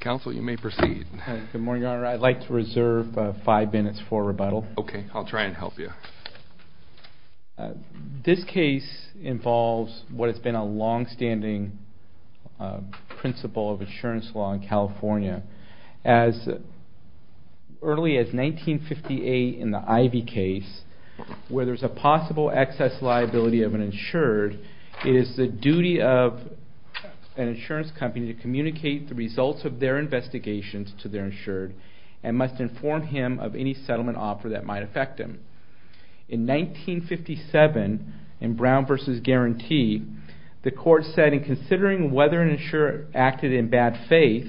Counsel, you may proceed. Good morning, Your Honor. I'd like to reserve five minutes for rebuttal. Okay, I'll try and help you. This case involves what has been a long-standing principle of insurance law in California. As early as 1958 in the Ivey case, where there's a possible excess liability of an insured, it is the duty of an insurance company to communicate the results of their investigations to their insured and must inform him of any settlement offer that might affect him. In 1957, in Brown v. Guarantee, the court said in considering whether an insurer acted in bad faith,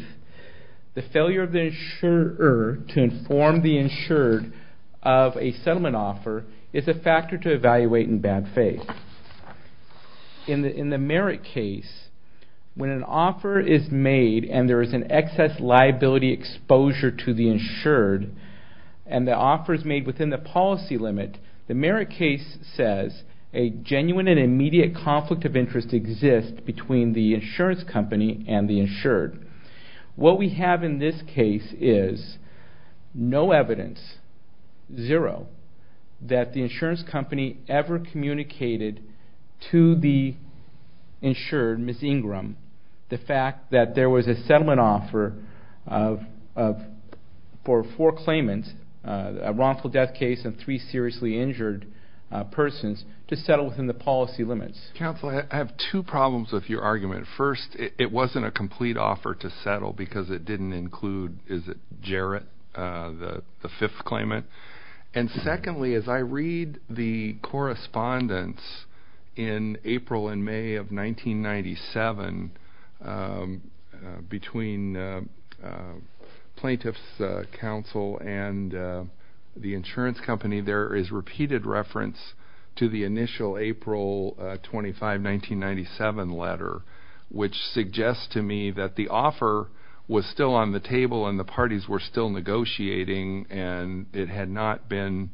the failure of the insurer to inform the insured of a settlement offer is a factor to evaluate in bad faith. In the merit case, when an offer is made and there is an excess liability exposure to the insured, and the offer is made within the policy limit, the merit case says a genuine and immediate conflict of interest exists between the insurance company and the insured. What we have in this case is no evidence, zero, that the insurance company ever communicated to the insured, Ms. Ingram, the fact that there was a settlement offer for four claimants, a wrongful death case and three seriously injured persons, to settle within the policy limits. Counsel, I have two problems with your argument. First, it wasn't a complete offer to settle because it didn't include, is it, Jarrett, the fifth claimant? And secondly, as I read the correspondence in April and May of 1997 between Plaintiff's Counsel and the insurance company, there is repeated reference to the initial April 25, 1997 letter, which suggests to me that the offer was still on the table and the parties were still negotiating and it had not been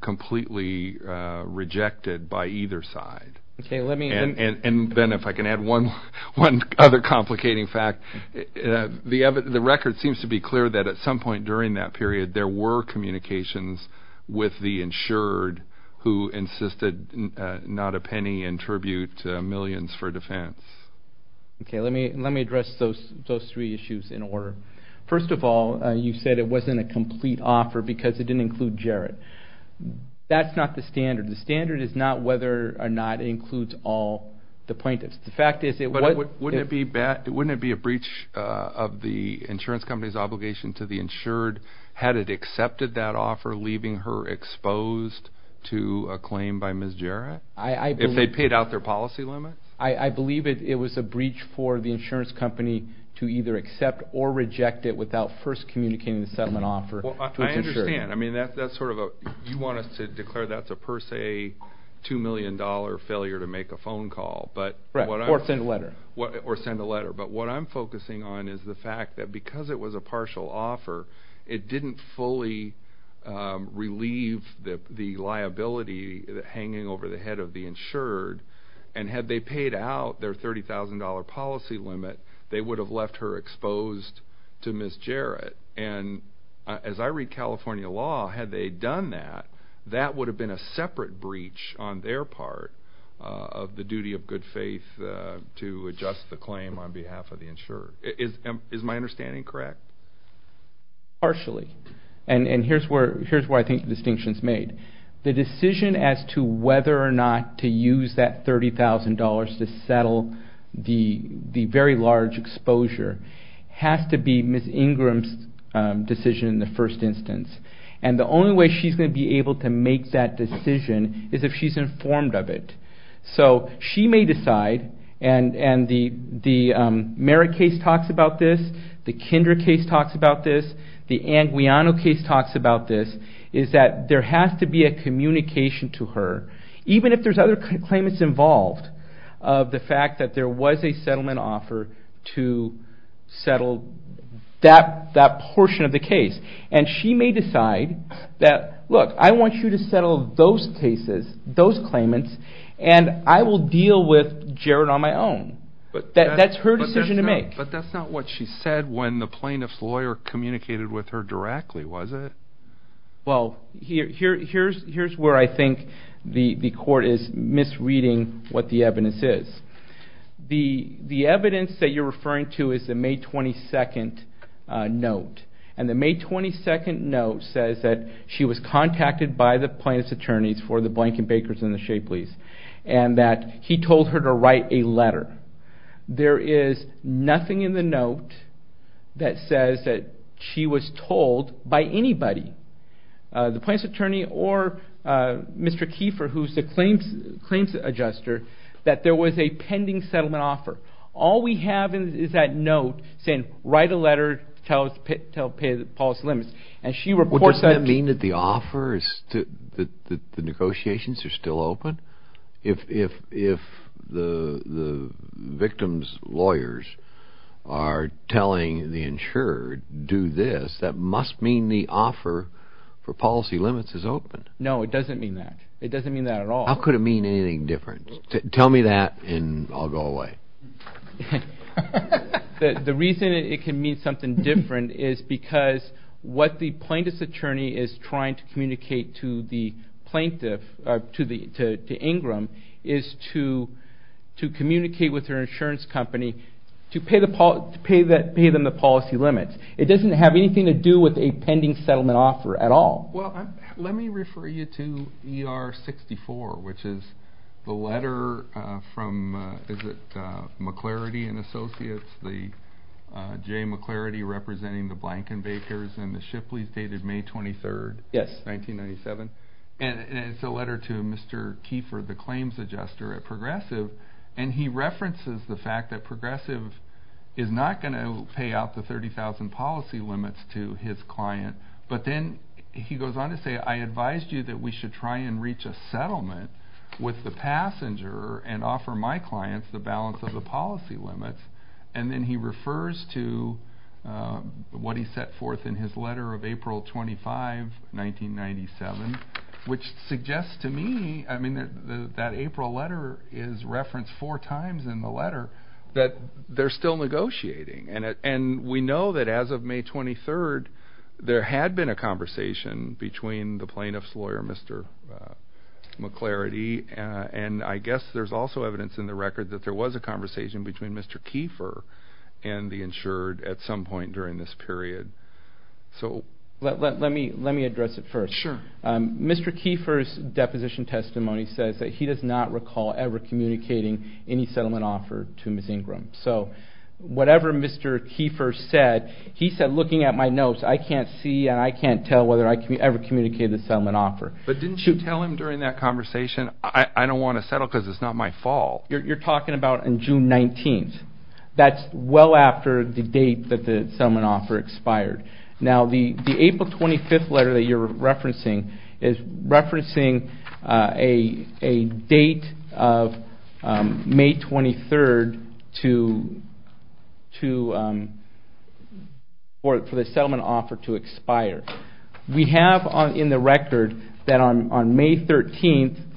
completely rejected by either side. And then if I can add one other complicating fact, the record seems to be clear that at some point during that period there were communications with the insured who insisted not a penny in tribute to millions for defense. Okay, let me address those three issues in order. First of all, you said it wasn't a complete offer because it didn't include Jarrett. That's not the standard. The standard is not whether or not it includes all the plaintiffs. But wouldn't it be a breach of the insurance company's obligation to the insured had it accepted that offer, leaving her exposed to a claim by Ms. Jarrett? If they paid out their policy limits? I believe it was a breach for the insurance company to either accept or reject it without first communicating the settlement offer to its insured. I understand. I mean, you want us to declare that's a per se $2 million failure to make a phone call. Right, or send a letter. Or send a letter. But what I'm focusing on is the fact that because it was a partial offer, it didn't fully relieve the liability hanging over the head of the insured. And had they paid out their $30,000 policy limit, they would have left her exposed to Ms. Jarrett. And as I read California law, had they done that, that would have been a separate breach on their part of the duty of good faith to adjust the claim on behalf of the insured. Is my understanding correct? Partially. And here's where I think the distinction is made. The decision as to whether or not to use that $30,000 to settle the very large exposure has to be Ms. Ingram's decision in the first instance. And the only way she's going to be able to make that decision is if she's informed of it. So she may decide, and the Merritt case talks about this, the Kinder case talks about this, the Anguiano case talks about this, is that there has to be a communication to her, even if there's other claimants involved, of the fact that there was a settlement offer to settle that portion of the case. And she may decide that, look, I want you to settle those cases, those claimants, and I will deal with Jarrett on my own. That's her decision to make. But that's not what she said when the plaintiff's lawyer communicated with her directly, was it? Well, here's where I think the court is misreading what the evidence is. The evidence that you're referring to is the May 22nd note. And the May 22nd note says that she was contacted by the plaintiff's attorneys for the Blankenbakers and the Shapley's, and that he told her to write a letter. There is nothing in the note that says that she was told by anybody, the plaintiff's attorney or Mr. Kiefer, who's the claims adjuster, that there was a pending settlement offer. All we have is that note saying, write a letter, tell us to pay the policy limits. And she reports that. Well, doesn't that mean that the negotiations are still open? If the victim's lawyers are telling the insurer, do this, that must mean the offer for policy limits is open. No, it doesn't mean that. It doesn't mean that at all. How could it mean anything different? Tell me that and I'll go away. The reason it can mean something different is because what the plaintiff's attorney is trying to communicate to the plaintiff, to Ingram, is to communicate with her insurance company to pay them the policy limits. It doesn't have anything to do with a pending settlement offer at all. Let me refer you to ER 64, which is the letter from McClarity & Associates, Jay McClarity representing the Blankenbakers and the Shipley's dated May 23, 1997. It's a letter to Mr. Kiefer, the claims adjuster at Progressive, and he references the fact that Progressive is not going to pay out the 30,000 policy limits to his client, but then he goes on to say, I advised you that we should try and reach a settlement with the passenger and offer my clients the balance of the policy limits. Then he refers to what he set forth in his letter of April 25, 1997, which suggests to me that April letter is referenced four times in the letter that they're still negotiating, and we know that as of May 23, there had been a conversation between the plaintiff's lawyer, Mr. McClarity, and I guess there's also evidence in the record that there was a conversation between Mr. Kiefer and the insured at some point during this period. Let me address it first. Mr. Kiefer's deposition testimony says that he does not recall ever communicating any settlement offer to Ms. Ingram. So whatever Mr. Kiefer said, he said, looking at my notes, I can't see and I can't tell whether I ever communicated a settlement offer. But didn't you tell him during that conversation, I don't want to settle because it's not my fault? You're talking about on June 19. That's well after the date that the settlement offer expired. Now the April 25 letter that you're referencing is referencing a date of May 23 for the settlement offer to expire. We have in the record that on May 13,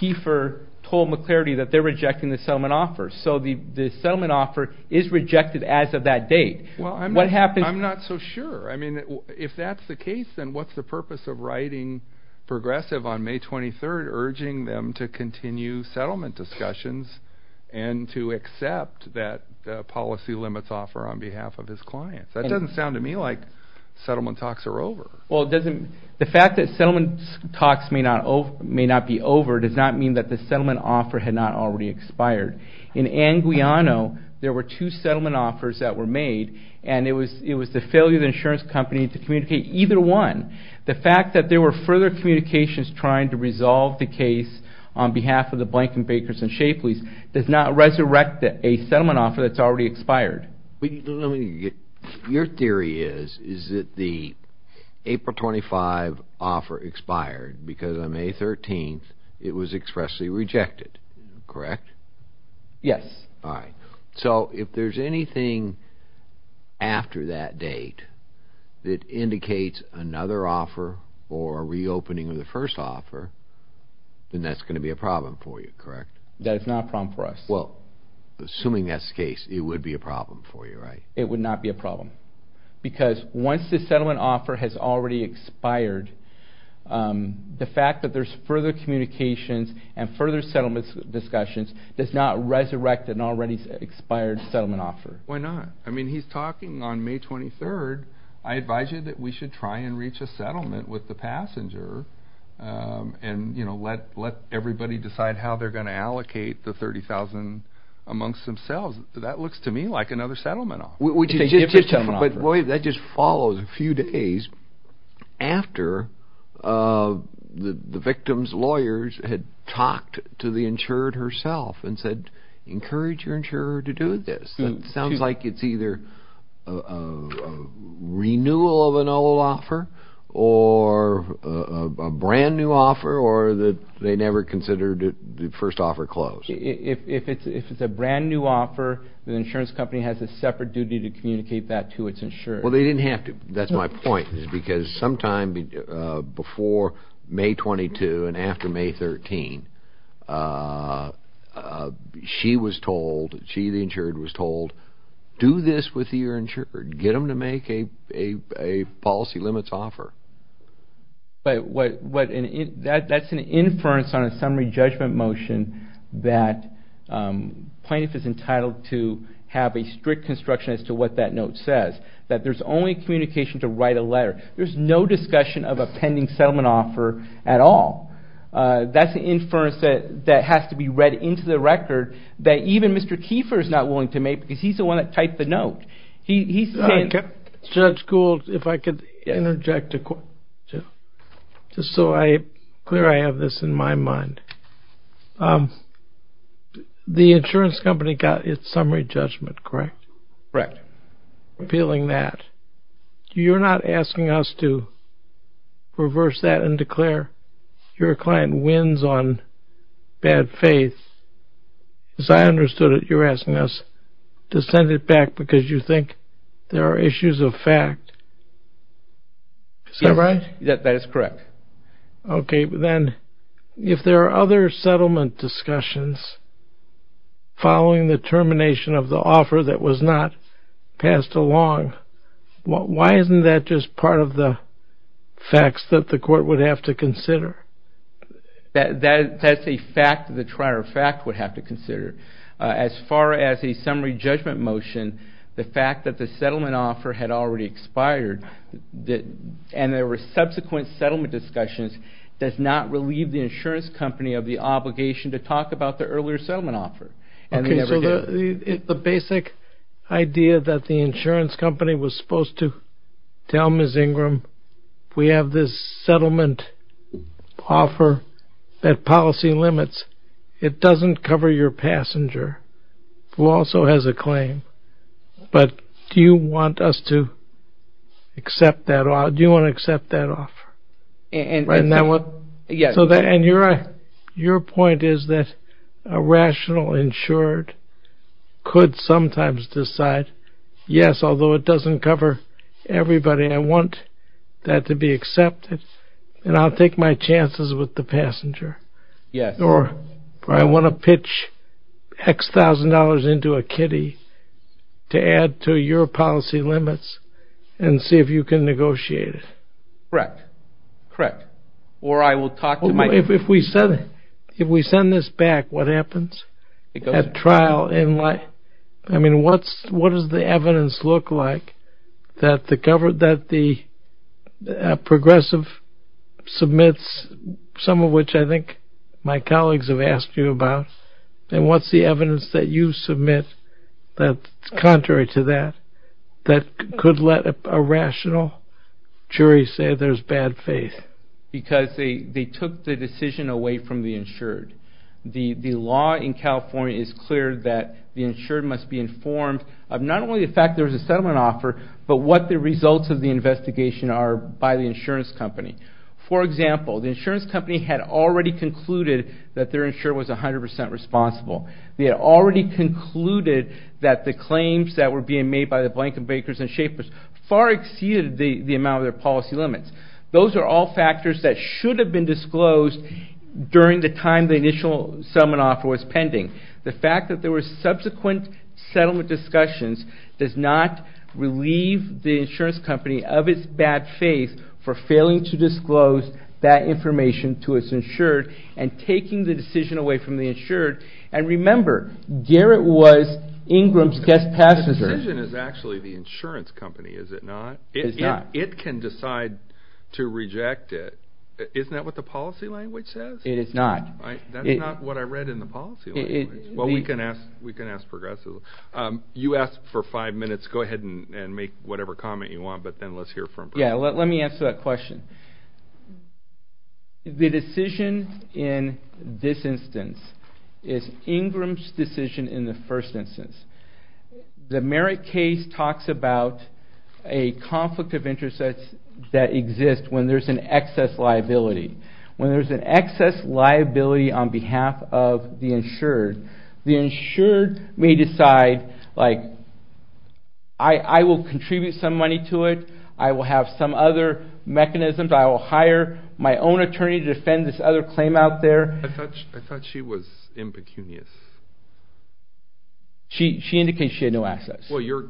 Kiefer told McClarity that they're rejecting the settlement offer. So the settlement offer is rejected as of that date. I'm not so sure. If that's the case, then what's the purpose of writing Progressive on May 23, urging them to continue settlement discussions and to accept that policy limits offer on behalf of his clients? That doesn't sound to me like settlement talks are over. The fact that settlement talks may not be over does not mean that the settlement offer had not already expired. In Anguiano, there were two settlement offers that were made, and it was the failure of the insurance company to communicate either one. The fact that there were further communications trying to resolve the case on behalf of the Blankenbakers and Shapley's does not resurrect a settlement offer that's already expired. Your theory is, is that the April 25 offer expired because on May 13 it was expressly rejected, correct? Yes. All right. So if there's anything after that date that indicates another offer or a reopening of the first offer, then that's going to be a problem for you, correct? That is not a problem for us. Well, assuming that's the case, it would be a problem for you, right? It would not be a problem because once the settlement offer has already expired, the fact that there's further communications and further settlement discussions does not resurrect an already expired settlement offer. Why not? I mean, he's talking on May 23. I advise you that we should try and reach a settlement with the passenger and let everybody decide how they're going to allocate the $30,000 amongst themselves. That looks to me like another settlement offer. It's a different settlement offer. But that just follows a few days after the victim's lawyers had talked to the insurer herself and said, encourage your insurer to do this. It sounds like it's either a renewal of an old offer or a brand new offer or they never considered the first offer closed. If it's a brand new offer, the insurance company has a separate duty to communicate that to its insurer. Well, they didn't have to. That's my point is because sometime before May 22 and after May 13, she was told, she, the insured, was told, do this with your insured. Get them to make a policy limits offer. But that's an inference on a summary judgment motion that plaintiff is entitled to have a strict construction as to what that note says, that there's only communication to write a letter. There's no discussion of a pending settlement offer at all. That's an inference that has to be read into the record that even Mr. Kiefer is not willing to make Judge Gould, if I could interject just so clear I have this in my mind. The insurance company got its summary judgment, correct? Correct. Appealing that. You're not asking us to reverse that and declare your client wins on bad faith. As I understood it, you're asking us to send it back because you think there are issues of fact. Is that right? That is correct. Okay. Then if there are other settlement discussions following the termination of the offer that was not passed along, why isn't that just part of the facts that the court would have to consider? That's a fact that the trial of fact would have to consider. As far as a summary judgment motion, the fact that the settlement offer had already expired and there were subsequent settlement discussions does not relieve the insurance company of the obligation to talk about the earlier settlement offer. The basic idea that the insurance company was supposed to tell Ms. Ingram, we have this settlement offer that policy limits. It doesn't cover your passenger who also has a claim. But do you want us to accept that? Do you want to accept that offer? In that one? Yes. Your point is that a rational insured could sometimes decide, yes, although it doesn't cover everybody, I want that to be accepted and I'll take my chances with the passenger. Yes. Or I want to pitch X thousand dollars into a kitty to add to your policy limits and see if you can negotiate it. Correct. Or I will talk to my... If we send this back, what happens at trial? I mean, what does the evidence look like that the progressive submits, some of which I think my colleagues have asked you about, and what's the evidence that you submit that's contrary to that, that could let a rational jury say there's bad faith? Because they took the decision away from the insured. The law in California is clear that the insured must be informed of not only the fact there's a settlement offer, but what the results of the investigation are by the insurance company. For example, the insurance company had already concluded that their insurer was 100% responsible. They had already concluded that the claims that were being made by the Blankenbakers and Shapers far exceeded the amount of their policy limits. Those are all factors that should have been disclosed during the time the initial settlement offer was pending. The fact that there were subsequent settlement discussions does not relieve the insurance company of its bad faith for failing to disclose that information to its insured and taking the decision away from the insured and remember, Garrett was Ingram's guest passenger. The decision is actually the insurance company, is it not? It is not. It can decide to reject it. Isn't that what the policy language says? It is not. That is not what I read in the policy language. Well, we can ask progressively. You ask for five minutes, go ahead and make whatever comment you want, but then let's hear from... Yeah, let me answer that question. The decision in this instance is Ingram's decision in the first instance. The merit case talks about a conflict of interest that exists when there is an excess liability. When there is an excess liability on behalf of the insured, the insured may decide, like, I will contribute some money to it, I will have some other mechanisms, I will hire my own attorney to defend this other claim out there. I thought she was impecunious. She indicates she had no assets. Well, your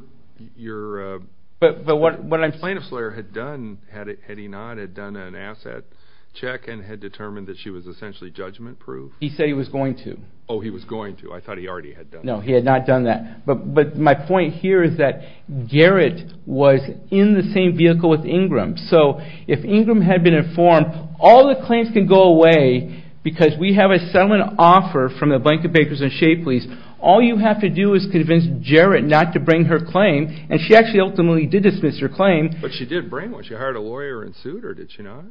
plaintiff's lawyer had done, had he not, had done an asset check and had determined that she was essentially judgment-proof. He said he was going to. Oh, he was going to. I thought he already had done that. No, he had not done that. But my point here is that Garrett was in the same vehicle with Ingram. So if Ingram had been informed, all the claims can go away because we have a settlement offer from the Bank of Bakers and Shea Police. All you have to do is convince Garrett not to bring her claim, and she actually ultimately did dismiss her claim. But she did bring one. She hired a lawyer and sued, or did she not?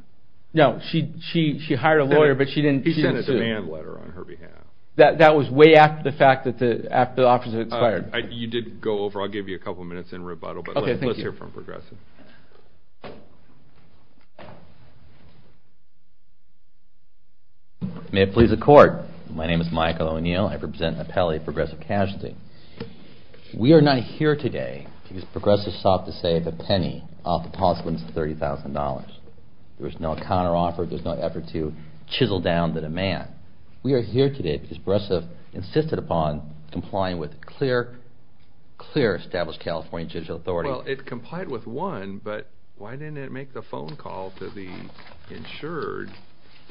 No, she hired a lawyer, but she didn't sue. He sent a demand letter on her behalf. That was way after the fact, after the offer was expired. You did go over. I'll give you a couple minutes in rebuttal, but let's hear from Progressive. May it please the Court. My name is Michael O'Neill. I represent an appellate at Progressive Casualty. We are not here today because Progressive sought to save a penny off the policy limits of $30,000. There was no counteroffer. There was no effort to chisel down the demand. We are here today because Progressive insisted upon complying with clear established California judicial authority. Well, it complied with one, but why didn't it make the phone call to the insured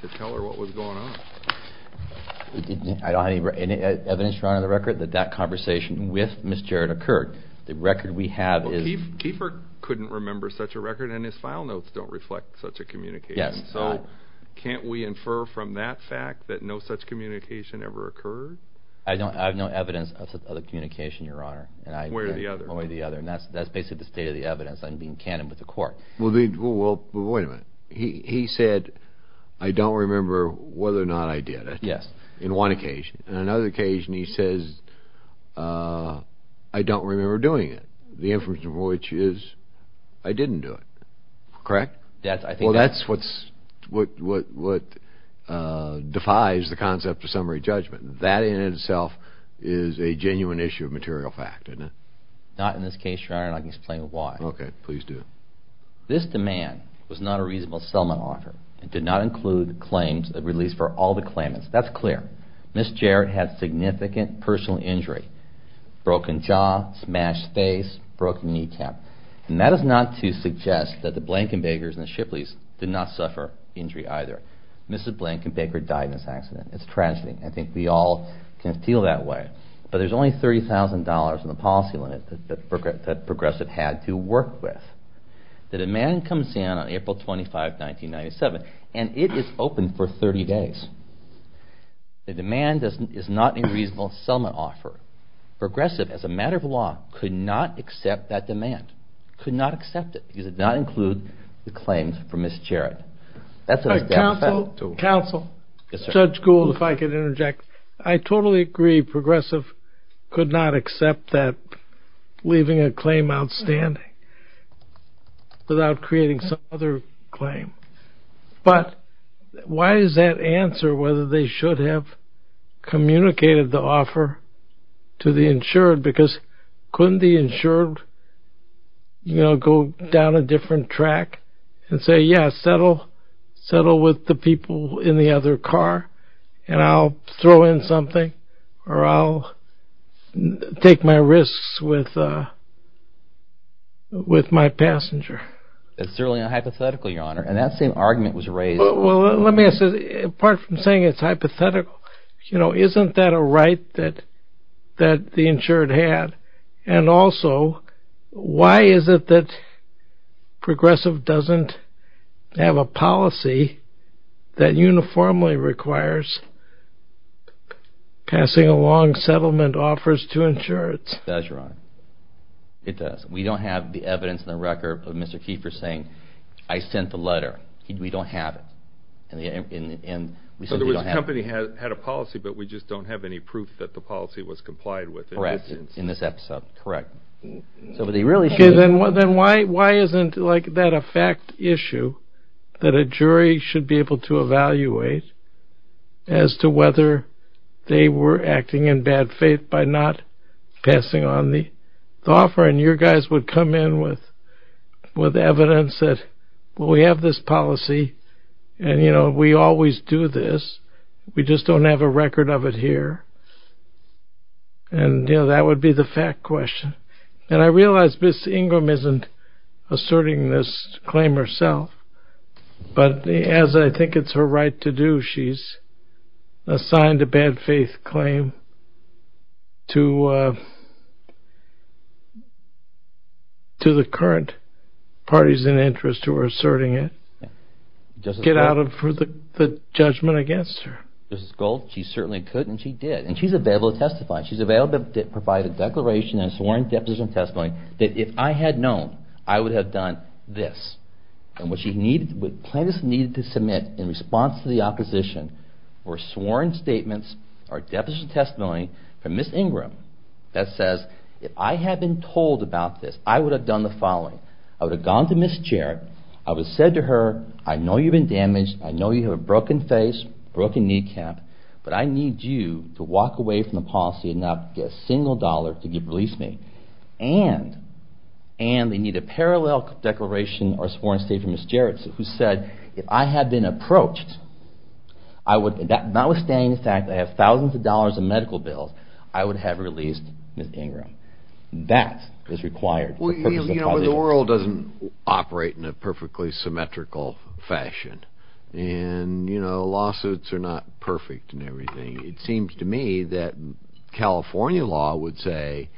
to tell her what was going on? I don't have any evidence to run on the record that that conversation with Ms. Jarrett occurred. The record we have is... Well, Kiefer couldn't remember such a record, and his file notes don't reflect such a communication. So can't we infer from that fact that no such communication ever occurred? I have no evidence of such a communication, Your Honor. One way or the other. One way or the other. And that's basically the state of the evidence. I'm being canon with the Court. Well, wait a minute. He said, I don't remember whether or not I did it. Yes. In one occasion. In another occasion, he says, I don't remember doing it. The inference of which is, I didn't do it. Correct? Well, that's what defies the concept of summary judgment. That in itself is a genuine issue of material fact, isn't it? Not in this case, Your Honor, and I can explain why. Okay, please do. This demand was not a reasonable settlement offer. It did not include claims that were released for all the claimants. That's clear. Ms. Jarrett had significant personal injury. Broken jaw, smashed face, broken kneecap. And that is not to suggest that the Blankenbakers and the Shipleys did not suffer injury either. Mrs. Blankenbaker died in this accident. It's a tragedy. I think we all can feel that way. But there's only $30,000 in the policy limit that Progressive had to work with. The demand comes in on April 25, 1997, and it is open for 30 days. The demand is not a reasonable settlement offer. Progressive, as a matter of law, could not accept that demand. Could not accept it because it did not include the claims from Ms. Jarrett. That's what it's down to. Counsel, Judge Gould, if I could interject. I totally agree. Progressive could not accept that, leaving a claim outstanding without creating some other claim. But why is that answer whether they should have communicated the offer to the insured? Because couldn't the insured go down a different track and say, yeah, settle with the people in the other car and I'll throw in something or I'll take my risks with my passenger? It's certainly unhypothetical, Your Honor, and that same argument was raised. Well, let me ask this. Apart from saying it's hypothetical, isn't that a right that the insured had? And also, why is it that Progressive doesn't have a policy that uniformly requires passing along settlement offers to insureds? It does, Your Honor. It does. We don't have the evidence in the record of Mr. Keefer saying, I sent the letter. We don't have it. So the company had a policy, but we just don't have any proof that the policy was complied with. Correct. In this episode. Correct. Then why isn't that a fact issue that a jury should be able to evaluate as to whether they were acting in bad faith by not passing on the offer? And your guys would come in with evidence that, well, we have this policy, and we always do this, we just don't have a record of it here. And that would be the fact question. And I realize Ms. Ingram isn't asserting this claim herself, but as I think it's her right to do, she's assigned a bad faith claim to the current parties in interest who are asserting it. Get out of the judgment against her. Justice Gold, she certainly could, and she did. And she's available to testify. She's available to provide a declaration and sworn deposition testimony that if I had known, I would have done this. And what plaintiffs needed to submit in response to the opposition were sworn statements or deposition testimony from Ms. Ingram that says, if I had been told about this, I would have done the following. I would have gone to Ms. Jarrett, I would have said to her, I know you've been damaged, I know you have a broken face, broken kneecap, but I need you to walk away from the policy and not get a single dollar to give relief to me. And they need a parallel declaration or sworn statement from Ms. Jarrett who said, if I had been approached, notwithstanding the fact that I have thousands of dollars in medical bills, I would have released Ms. Ingram. That is required. The world doesn't operate in a perfectly symmetrical fashion. And lawsuits are not perfect and everything. It seems to me that California law would say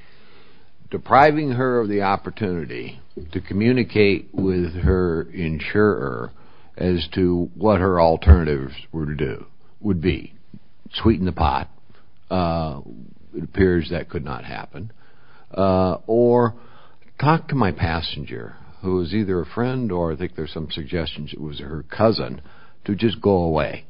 depriving her of the opportunity to communicate with her insurer as to what her alternatives were to do would be, sweeten the pot. It appears that could not happen. Or talk to my passenger who is either a friend or I think there's some suggestions it was her cousin, to just go away.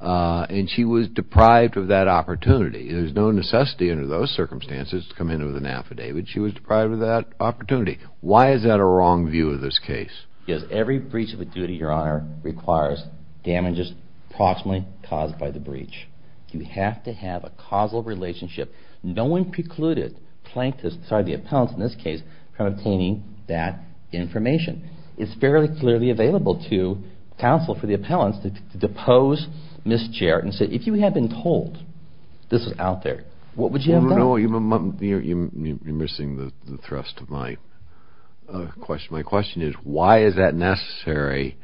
And she was deprived of that opportunity. There's no necessity under those circumstances to come in with an affidavit. She was deprived of that opportunity. Why is that a wrong view of this case? Yes, every breach of a duty, Your Honor, requires damages approximately caused by the breach. You have to have a causal relationship. No one precluded plaintiffs, sorry, the appellants in this case, from obtaining that information. It's fairly clearly available to counsel for the appellants to depose Ms. Jarrett and say if you had been told this was out there, what would you have done? No, you're missing the thrust of my question. My question is why is that necessary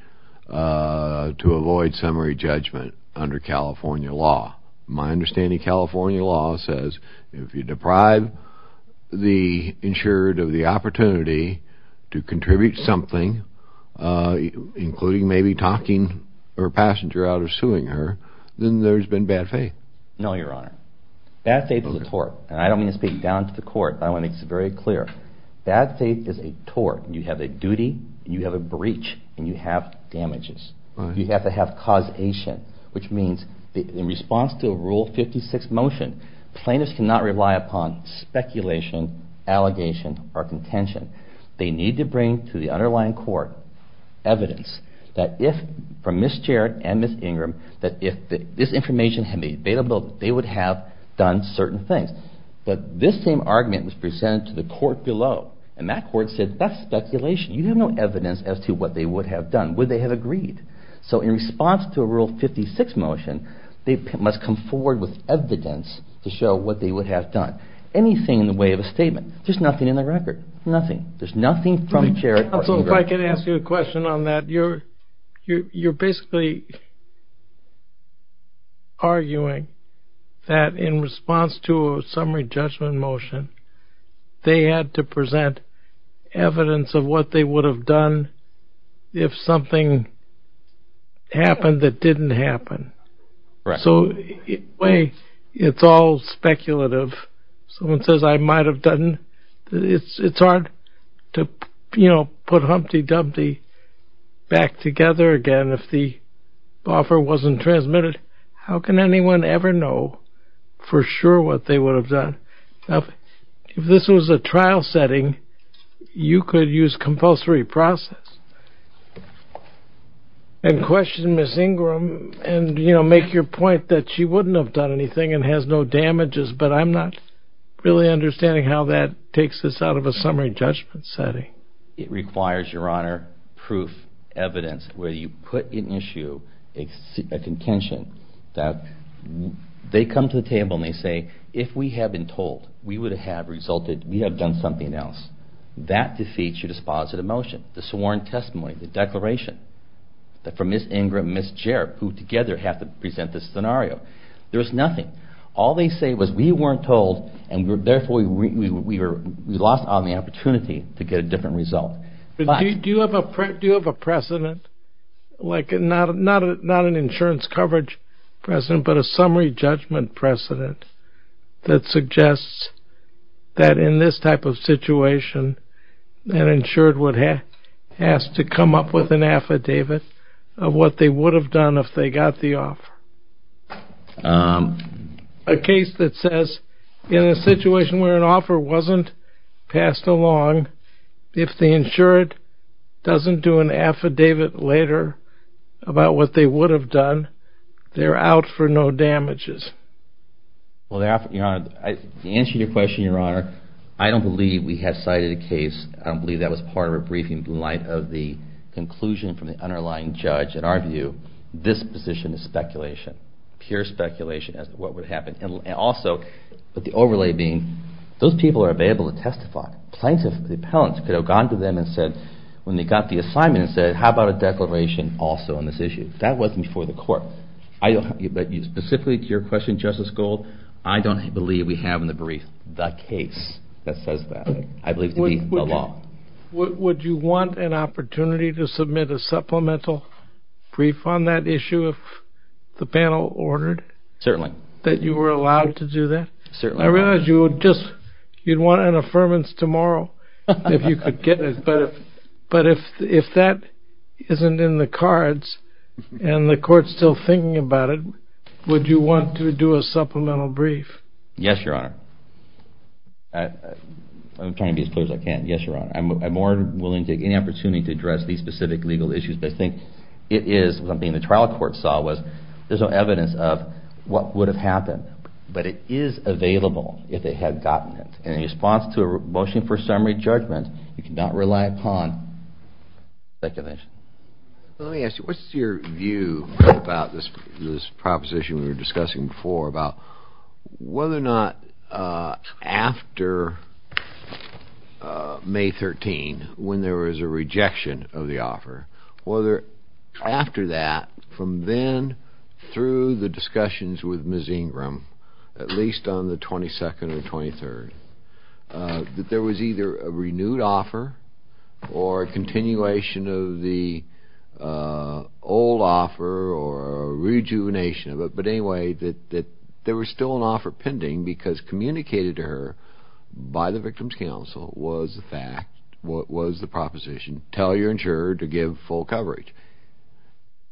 to avoid summary judgment under California law? My understanding California law says if you deprive the insured of the opportunity to contribute something, including maybe talking her passenger out of suing her, then there's been bad faith. No, Your Honor. Bad faith is a tort. And I don't mean to speak down to the court. I want to make this very clear. Bad faith is a tort. You have a duty, you have a breach, and you have damages. You have to have causation, which means in response to Rule 56 motion, plaintiffs cannot rely upon speculation, allegation, or contention. They need to bring to the underlying court evidence from Ms. Jarrett and Ms. Ingram that if this information had been available, they would have done certain things. But this same argument was presented to the court below, and that court said that's speculation. You have no evidence as to what they would have done. Would they have agreed? So in response to a Rule 56 motion, they must come forward with evidence to show what they would have done. Anything in the way of a statement. There's nothing in the record. Nothing. There's nothing from Jarrett or Ingram. Counsel, if I could ask you a question on that. You're basically arguing that in response to a summary judgment motion, they had to present evidence of what they would have done if something happened that didn't happen. So in a way, it's all speculative. Someone says, I might have done. It's hard to put Humpty Dumpty back together again if the offer wasn't transmitted. How can anyone ever know for sure what they would have done? If this was a trial setting, you could use compulsory process and question Ms. Ingram and make your point that she wouldn't have done anything and has no damages, but I'm not really understanding how that takes this out of a summary judgment setting. It requires, Your Honor, proof, evidence where you put in issue a contention that they come to the table and they say, if we had been told we would have done something else, that defeats your dispositive motion, the sworn testimony, the declaration from Ms. Ingram and Ms. Jarrett, who together have to present this scenario. There's nothing. All they say was we weren't told and therefore we lost on the opportunity to get a different result. Do you have a precedent, not an insurance coverage precedent, but a summary judgment precedent that suggests that in this type of situation, an insured would have to come up with an affidavit of what they would have done if they got the offer? A case that says, in a situation where an offer wasn't passed along, if the insured doesn't do an affidavit later about what they would have done, they're out for no damages. Well, to answer your question, Your Honor, I don't believe we have cited a case, I don't believe that was part of a briefing in light of the conclusion from the underlying judge. In our view, this position is speculation, pure speculation as to what would happen. And also, with the overlay being, those people are available to testify. Plenty of the appellants could have gone to them and said, when they got the assignment, and said, how about a declaration also on this issue? That wasn't before the court. Specifically to your question, Justice Gold, I don't believe we have in the brief the case that says that. I believe it to be a law. Would you want an opportunity to submit a supplemental brief on that issue if the panel ordered? Certainly. That you were allowed to do that? Certainly. I realize you would just, you'd want an affirmance tomorrow if you could get it. But if that isn't in the cards, and the court's still thinking about it, would you want to do a supplemental brief? Yes, Your Honor. I'm trying to be as clear as I can. Yes, Your Honor. I'm more than willing to take any opportunity to address these specific legal issues, but I think it is something the trial court saw was there's no evidence of what would have happened. But it is available if they had gotten it. And in response to a motion for summary judgment, you cannot rely upon speculation. Let me ask you, what's your view about this proposition we were discussing before about whether or not after May 13, when there was a rejection of the offer, whether after that, from then through the discussions with Ms. Ingram, at least on the 22nd or 23rd, that there was either a renewed offer or a continuation of the old offer or a rejuvenation of it, but anyway, that there was still an offer pending because communicated to her by the Victim's Counsel was the fact, was the proposition, tell your insurer to give full coverage.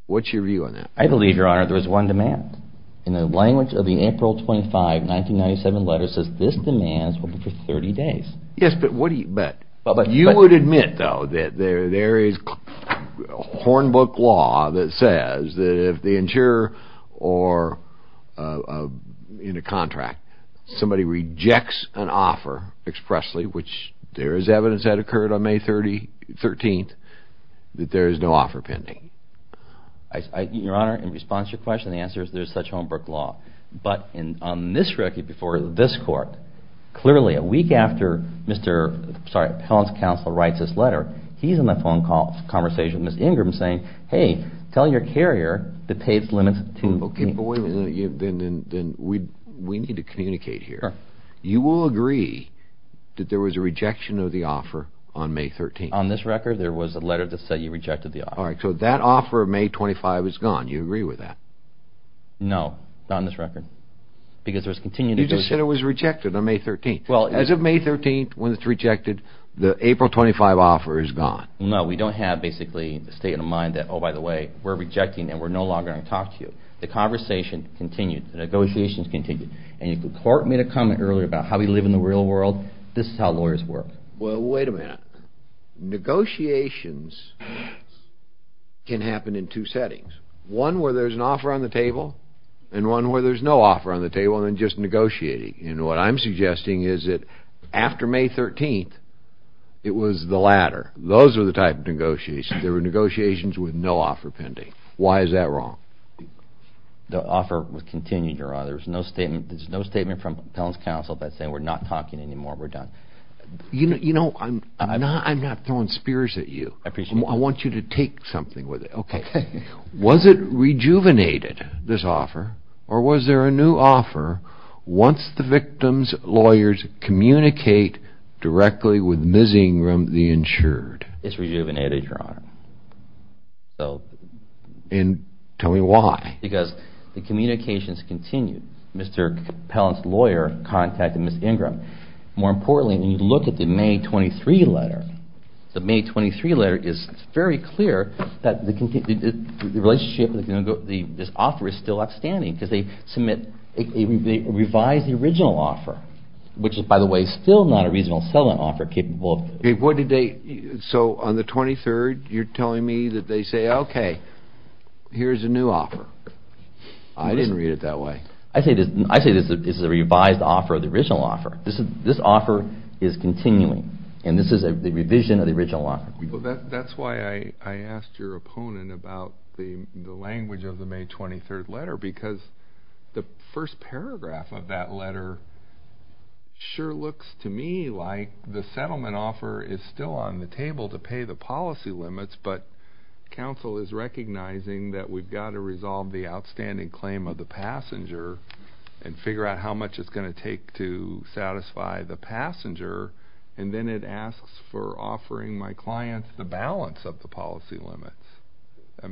What's your view on that? I believe, Your Honor, there was one demand. And the language of the April 25, 1997 letter says this demand is open for 30 days. Yes, but you would admit, though, that there is hornbook law that says that if the insurer or in a contract, somebody rejects an offer expressly, which there is evidence that occurred on May 13, that there is no offer pending. Your Honor, in response to your question, the answer is there is such hornbook law. But on this record before this Court, clearly a week after Mr. Pelham's counsel writes this letter, he's in the phone conversation with Ms. Ingram saying, hey, tell your carrier to pay its limits to me. Okay, but wait a minute. Then we need to communicate here. You will agree that there was a rejection of the offer on May 13? On this record, there was a letter that said you rejected the offer. All right, so that offer of May 25 is gone. You agree with that? No, not on this record. Because there was continued rejection. You just said it was rejected on May 13. As of May 13, when it's rejected, the April 25 offer is gone. No, we don't have basically a state of mind that, oh, by the way, we're rejecting and we're no longer going to talk to you. The conversation continued. The negotiations continued. And if the Court made a comment earlier about how we live in the real world, this is how lawyers work. Well, wait a minute. Negotiations can happen in two settings, one where there's an offer on the table and one where there's no offer on the table and then just negotiating. And what I'm suggesting is that after May 13, it was the latter. Those are the type of negotiations. There were negotiations with no offer pending. Why is that wrong? The offer was continued, Your Honor. There's no statement from Appellant's Counsel that's saying we're not talking anymore, we're done. You know, I'm not throwing spears at you. I appreciate that. I want you to take something with it. Okay. Was it rejuvenated, this offer, or was there a new offer once the victim's lawyers communicate directly with Ms. Ingram, the insured? It's rejuvenated, Your Honor. And tell me why. Because the communications continued. Mr. Appellant's lawyer contacted Ms. Ingram. More importantly, when you look at the May 23 letter, it's very clear that the relationship with this offer is still outstanding because they revised the original offer, which is, by the way, still not a reasonable settlement offer capable of this. So on the 23rd, you're telling me that they say, okay, here's a new offer. I didn't read it that way. I say this is a revised offer of the original offer. This offer is continuing, and this is a revision of the original offer. Well, that's why I asked your opponent about the language of the May 23 letter because the first paragraph of that letter sure looks to me like the settlement offer is still on the table to pay the policy limits, but counsel is recognizing that we've got to resolve the outstanding claim of the passenger and figure out how much it's going to take to satisfy the passenger, and then it asks for offering my client the balance of the policy limits.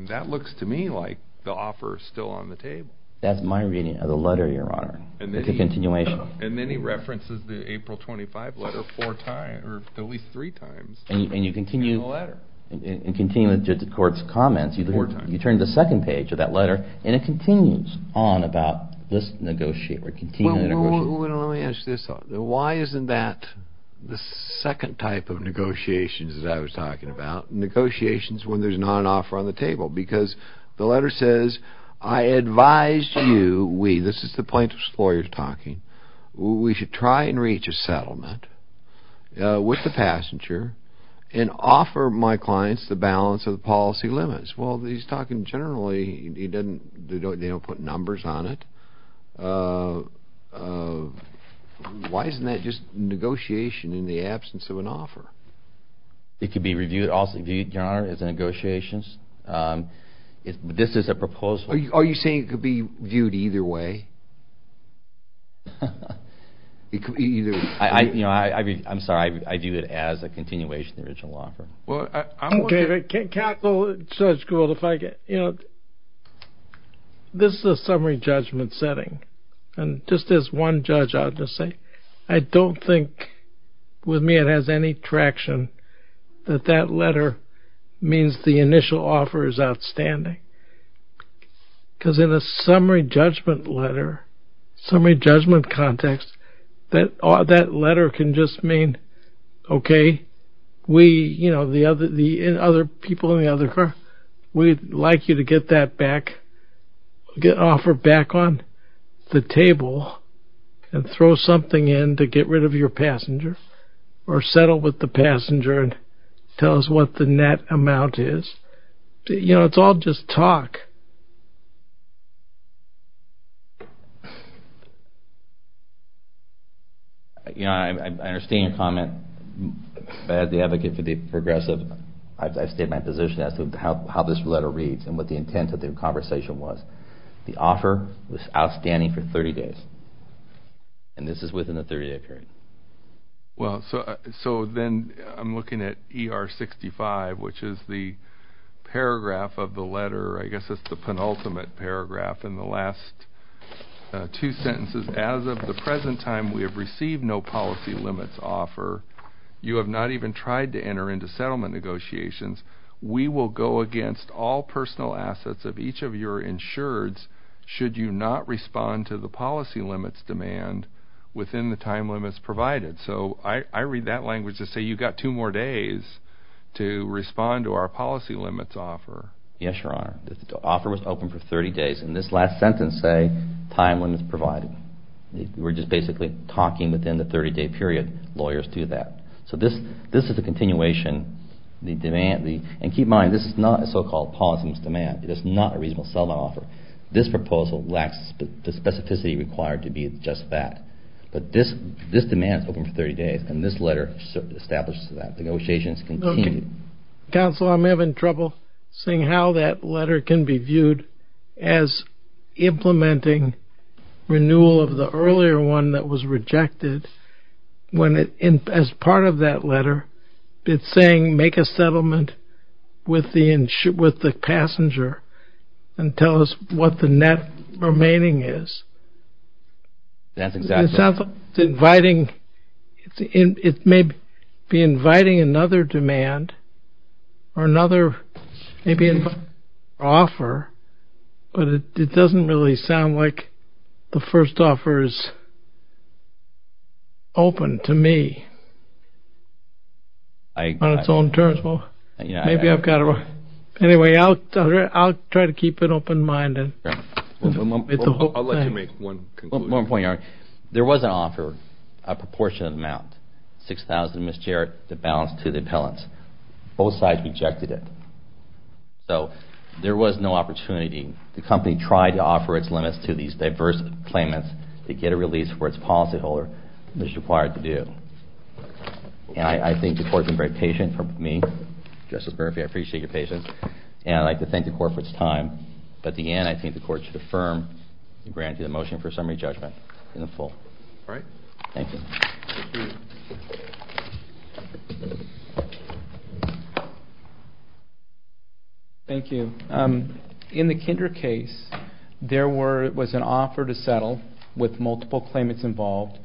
That looks to me like the offer is still on the table. That's my reading of the letter, Your Honor. It's a continuation. And then he references the April 25 letter four times, or at least three times. And you continue the court's comments. Four times. You turn to the second page of that letter, and it continues on about this negotiation. Well, let me ask you this. Why isn't that the second type of negotiations that I was talking about, negotiations when there's not an offer on the table? Because the letter says, I advise you we, this is the plaintiff's lawyer talking, we should try and reach a settlement with the passenger and offer my clients the balance of the policy limits. Well, he's talking generally. They don't put numbers on it. Why isn't that just negotiation in the absence of an offer? It could be reviewed also, Your Honor, as negotiations. This is a proposal. Are you saying it could be viewed either way? I'm sorry. I view it as a continuation of the original offer. Okay. Counsel, Judge Gould, if I get, you know, this is a summary judgment setting. And just as one judge, I'll just say, I don't think with me it has any traction that that letter means the initial offer is outstanding. Because in a summary judgment letter, summary judgment context, that letter can just mean, okay, we, you know, the other people in the other car, we'd like you to get that back, get an offer back on the table and throw something in to get rid of your passenger or settle with the passenger and tell us what the net amount is. You know, it's all just talk. Your Honor, I understand your comment. As the advocate for the progressive, I've stated my position as to how this letter reads and what the intent of the conversation was. The offer was outstanding for 30 days. And this is within the 30-day period. Well, so then I'm looking at ER 65, which is the paragraph of the letter, I guess it's the penultimate paragraph in the last two sentences. As of the present time, we have received no policy limits offer. You have not even tried to enter into settlement negotiations. We will go against all personal assets of each of your insureds should you not respond to the policy limits demand within the time limits provided. So I read that language to say you've got two more days to respond to our policy limits offer. Yes, Your Honor. The offer was open for 30 days. In this last sentence, say, time limits provided. We're just basically talking within the 30-day period. Lawyers do that. So this is a continuation. And keep in mind, this is not a so-called policy limits demand. It is not a reasonable settlement offer. This proposal lacks the specificity required to be just that. But this demand is open for 30 days, and this letter establishes that. Negotiations continue. Counsel, I'm having trouble seeing how that letter can be viewed as implementing renewal of the earlier one that was rejected when, as part of that letter, it's saying make a settlement with the passenger and tell us what the net remaining is. That's exactly right. It's inviting. It may be inviting another demand or another maybe an offer, but it doesn't really sound like the first offer is open to me on its own terms. Well, maybe I've got it wrong. Anyway, I'll try to keep it open-minded. I'll let you make one conclusion. There was an offer, a proportionate amount, $6,000 in miscarriage of the balance to the appellants. Both sides rejected it. So there was no opportunity. The company tried to offer its limits to these diverse claimants to get a release for its policyholder. It was required to do. And I think the court has been very patient with me. Justice Murphy, I appreciate your patience. And I'd like to thank the court for its time. At the end, I think the court should affirm and grant you the motion for summary judgment in the full. All right. Thank you. Thank you. In the Kinder case, there was an offer to settle with multiple claimants involved,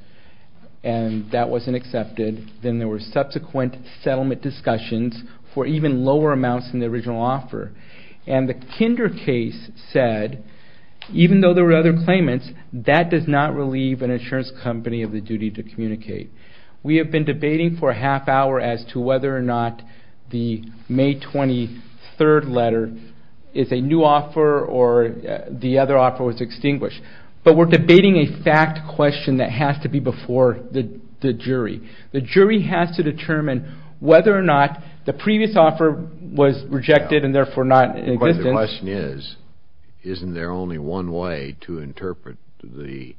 and that wasn't accepted. Then there were subsequent settlement discussions for even lower amounts than the original offer. And the Kinder case said, even though there were other claimants, that does not relieve an insurance company of the duty to communicate. We have been debating for a half hour as to whether or not the May 23rd letter is a new offer or the other offer was extinguished. But we're debating a fact question that has to be before the jury. The jury has to determine whether or not the previous offer was rejected and therefore not in existence. But the question is, isn't there only one way to interpret the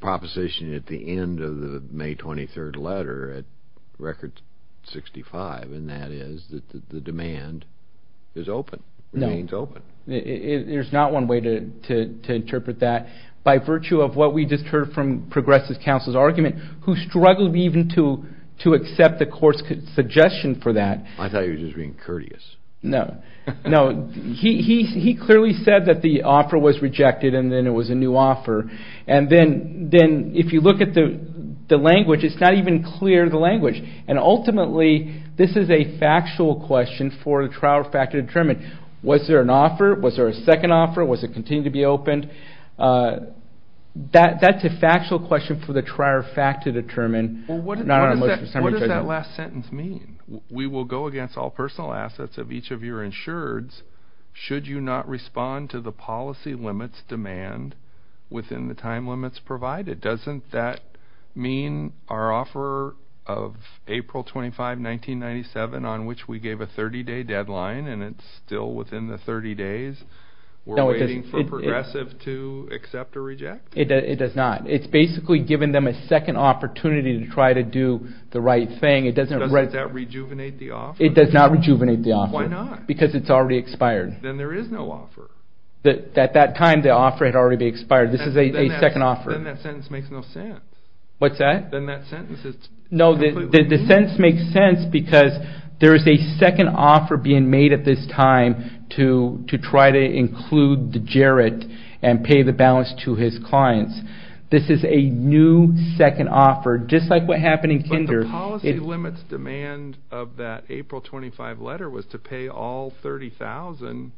proposition at the end of the May 23rd letter at Record 65, and that is that the demand is open, remains open. No. There's not one way to interpret that. By virtue of what we just heard from Progressive Counsel's argument, who struggled even to accept the court's suggestion for that. I thought he was just being courteous. No. No. He clearly said that the offer was rejected and then it was a new offer. And then if you look at the language, it's not even clear, the language. And ultimately, this is a factual question for the trial factor to determine. Was there an offer? Was there a second offer? Was it continuing to be opened? That's a factual question for the trial factor to determine. What does that last sentence mean? We will go against all personal assets of each of your insureds should you not respond to the policy limits demand within the time limits provided. Doesn't that mean our offer of April 25, 1997 on which we gave a 30-day deadline and it's still within the 30 days? We're waiting for Progressive to accept or reject? It does not. It's basically giving them a second opportunity to try to do the right thing. Doesn't that rejuvenate the offer? It does not rejuvenate the offer. Why not? Because it's already expired. Then there is no offer. At that time, the offer had already expired. This is a second offer. Then that sentence makes no sense. What's that? Then that sentence is completely meaningless. No, the sentence makes sense because there is a second offer being made at this time to try to include Jarrett and pay the balance to his clients. This is a new second offer just like what happened in Kinder. But the policy limits demand of that April 25 letter was to pay all $30,000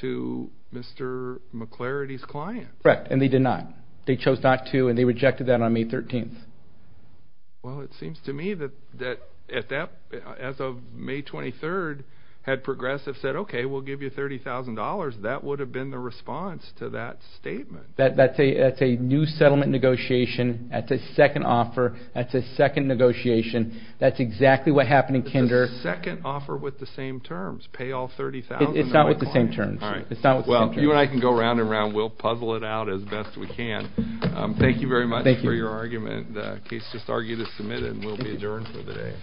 to Mr. McLarity's clients. Correct, and they did not. They chose not to and they rejected that on May 13th. Well, it seems to me that as of May 23rd, had Progressive said, okay, we'll give you $30,000, that would have been the response to that statement. That's a new settlement negotiation. That's a second offer. That's a second negotiation. That's exactly what happened in Kinder. It's a second offer with the same terms, pay all $30,000 to my clients. It's not with the same terms. All right. Well, you and I can go round and round. We'll puzzle it out as best we can. Thank you very much for your argument. The case just argued is submitted and will be adjourned for the day.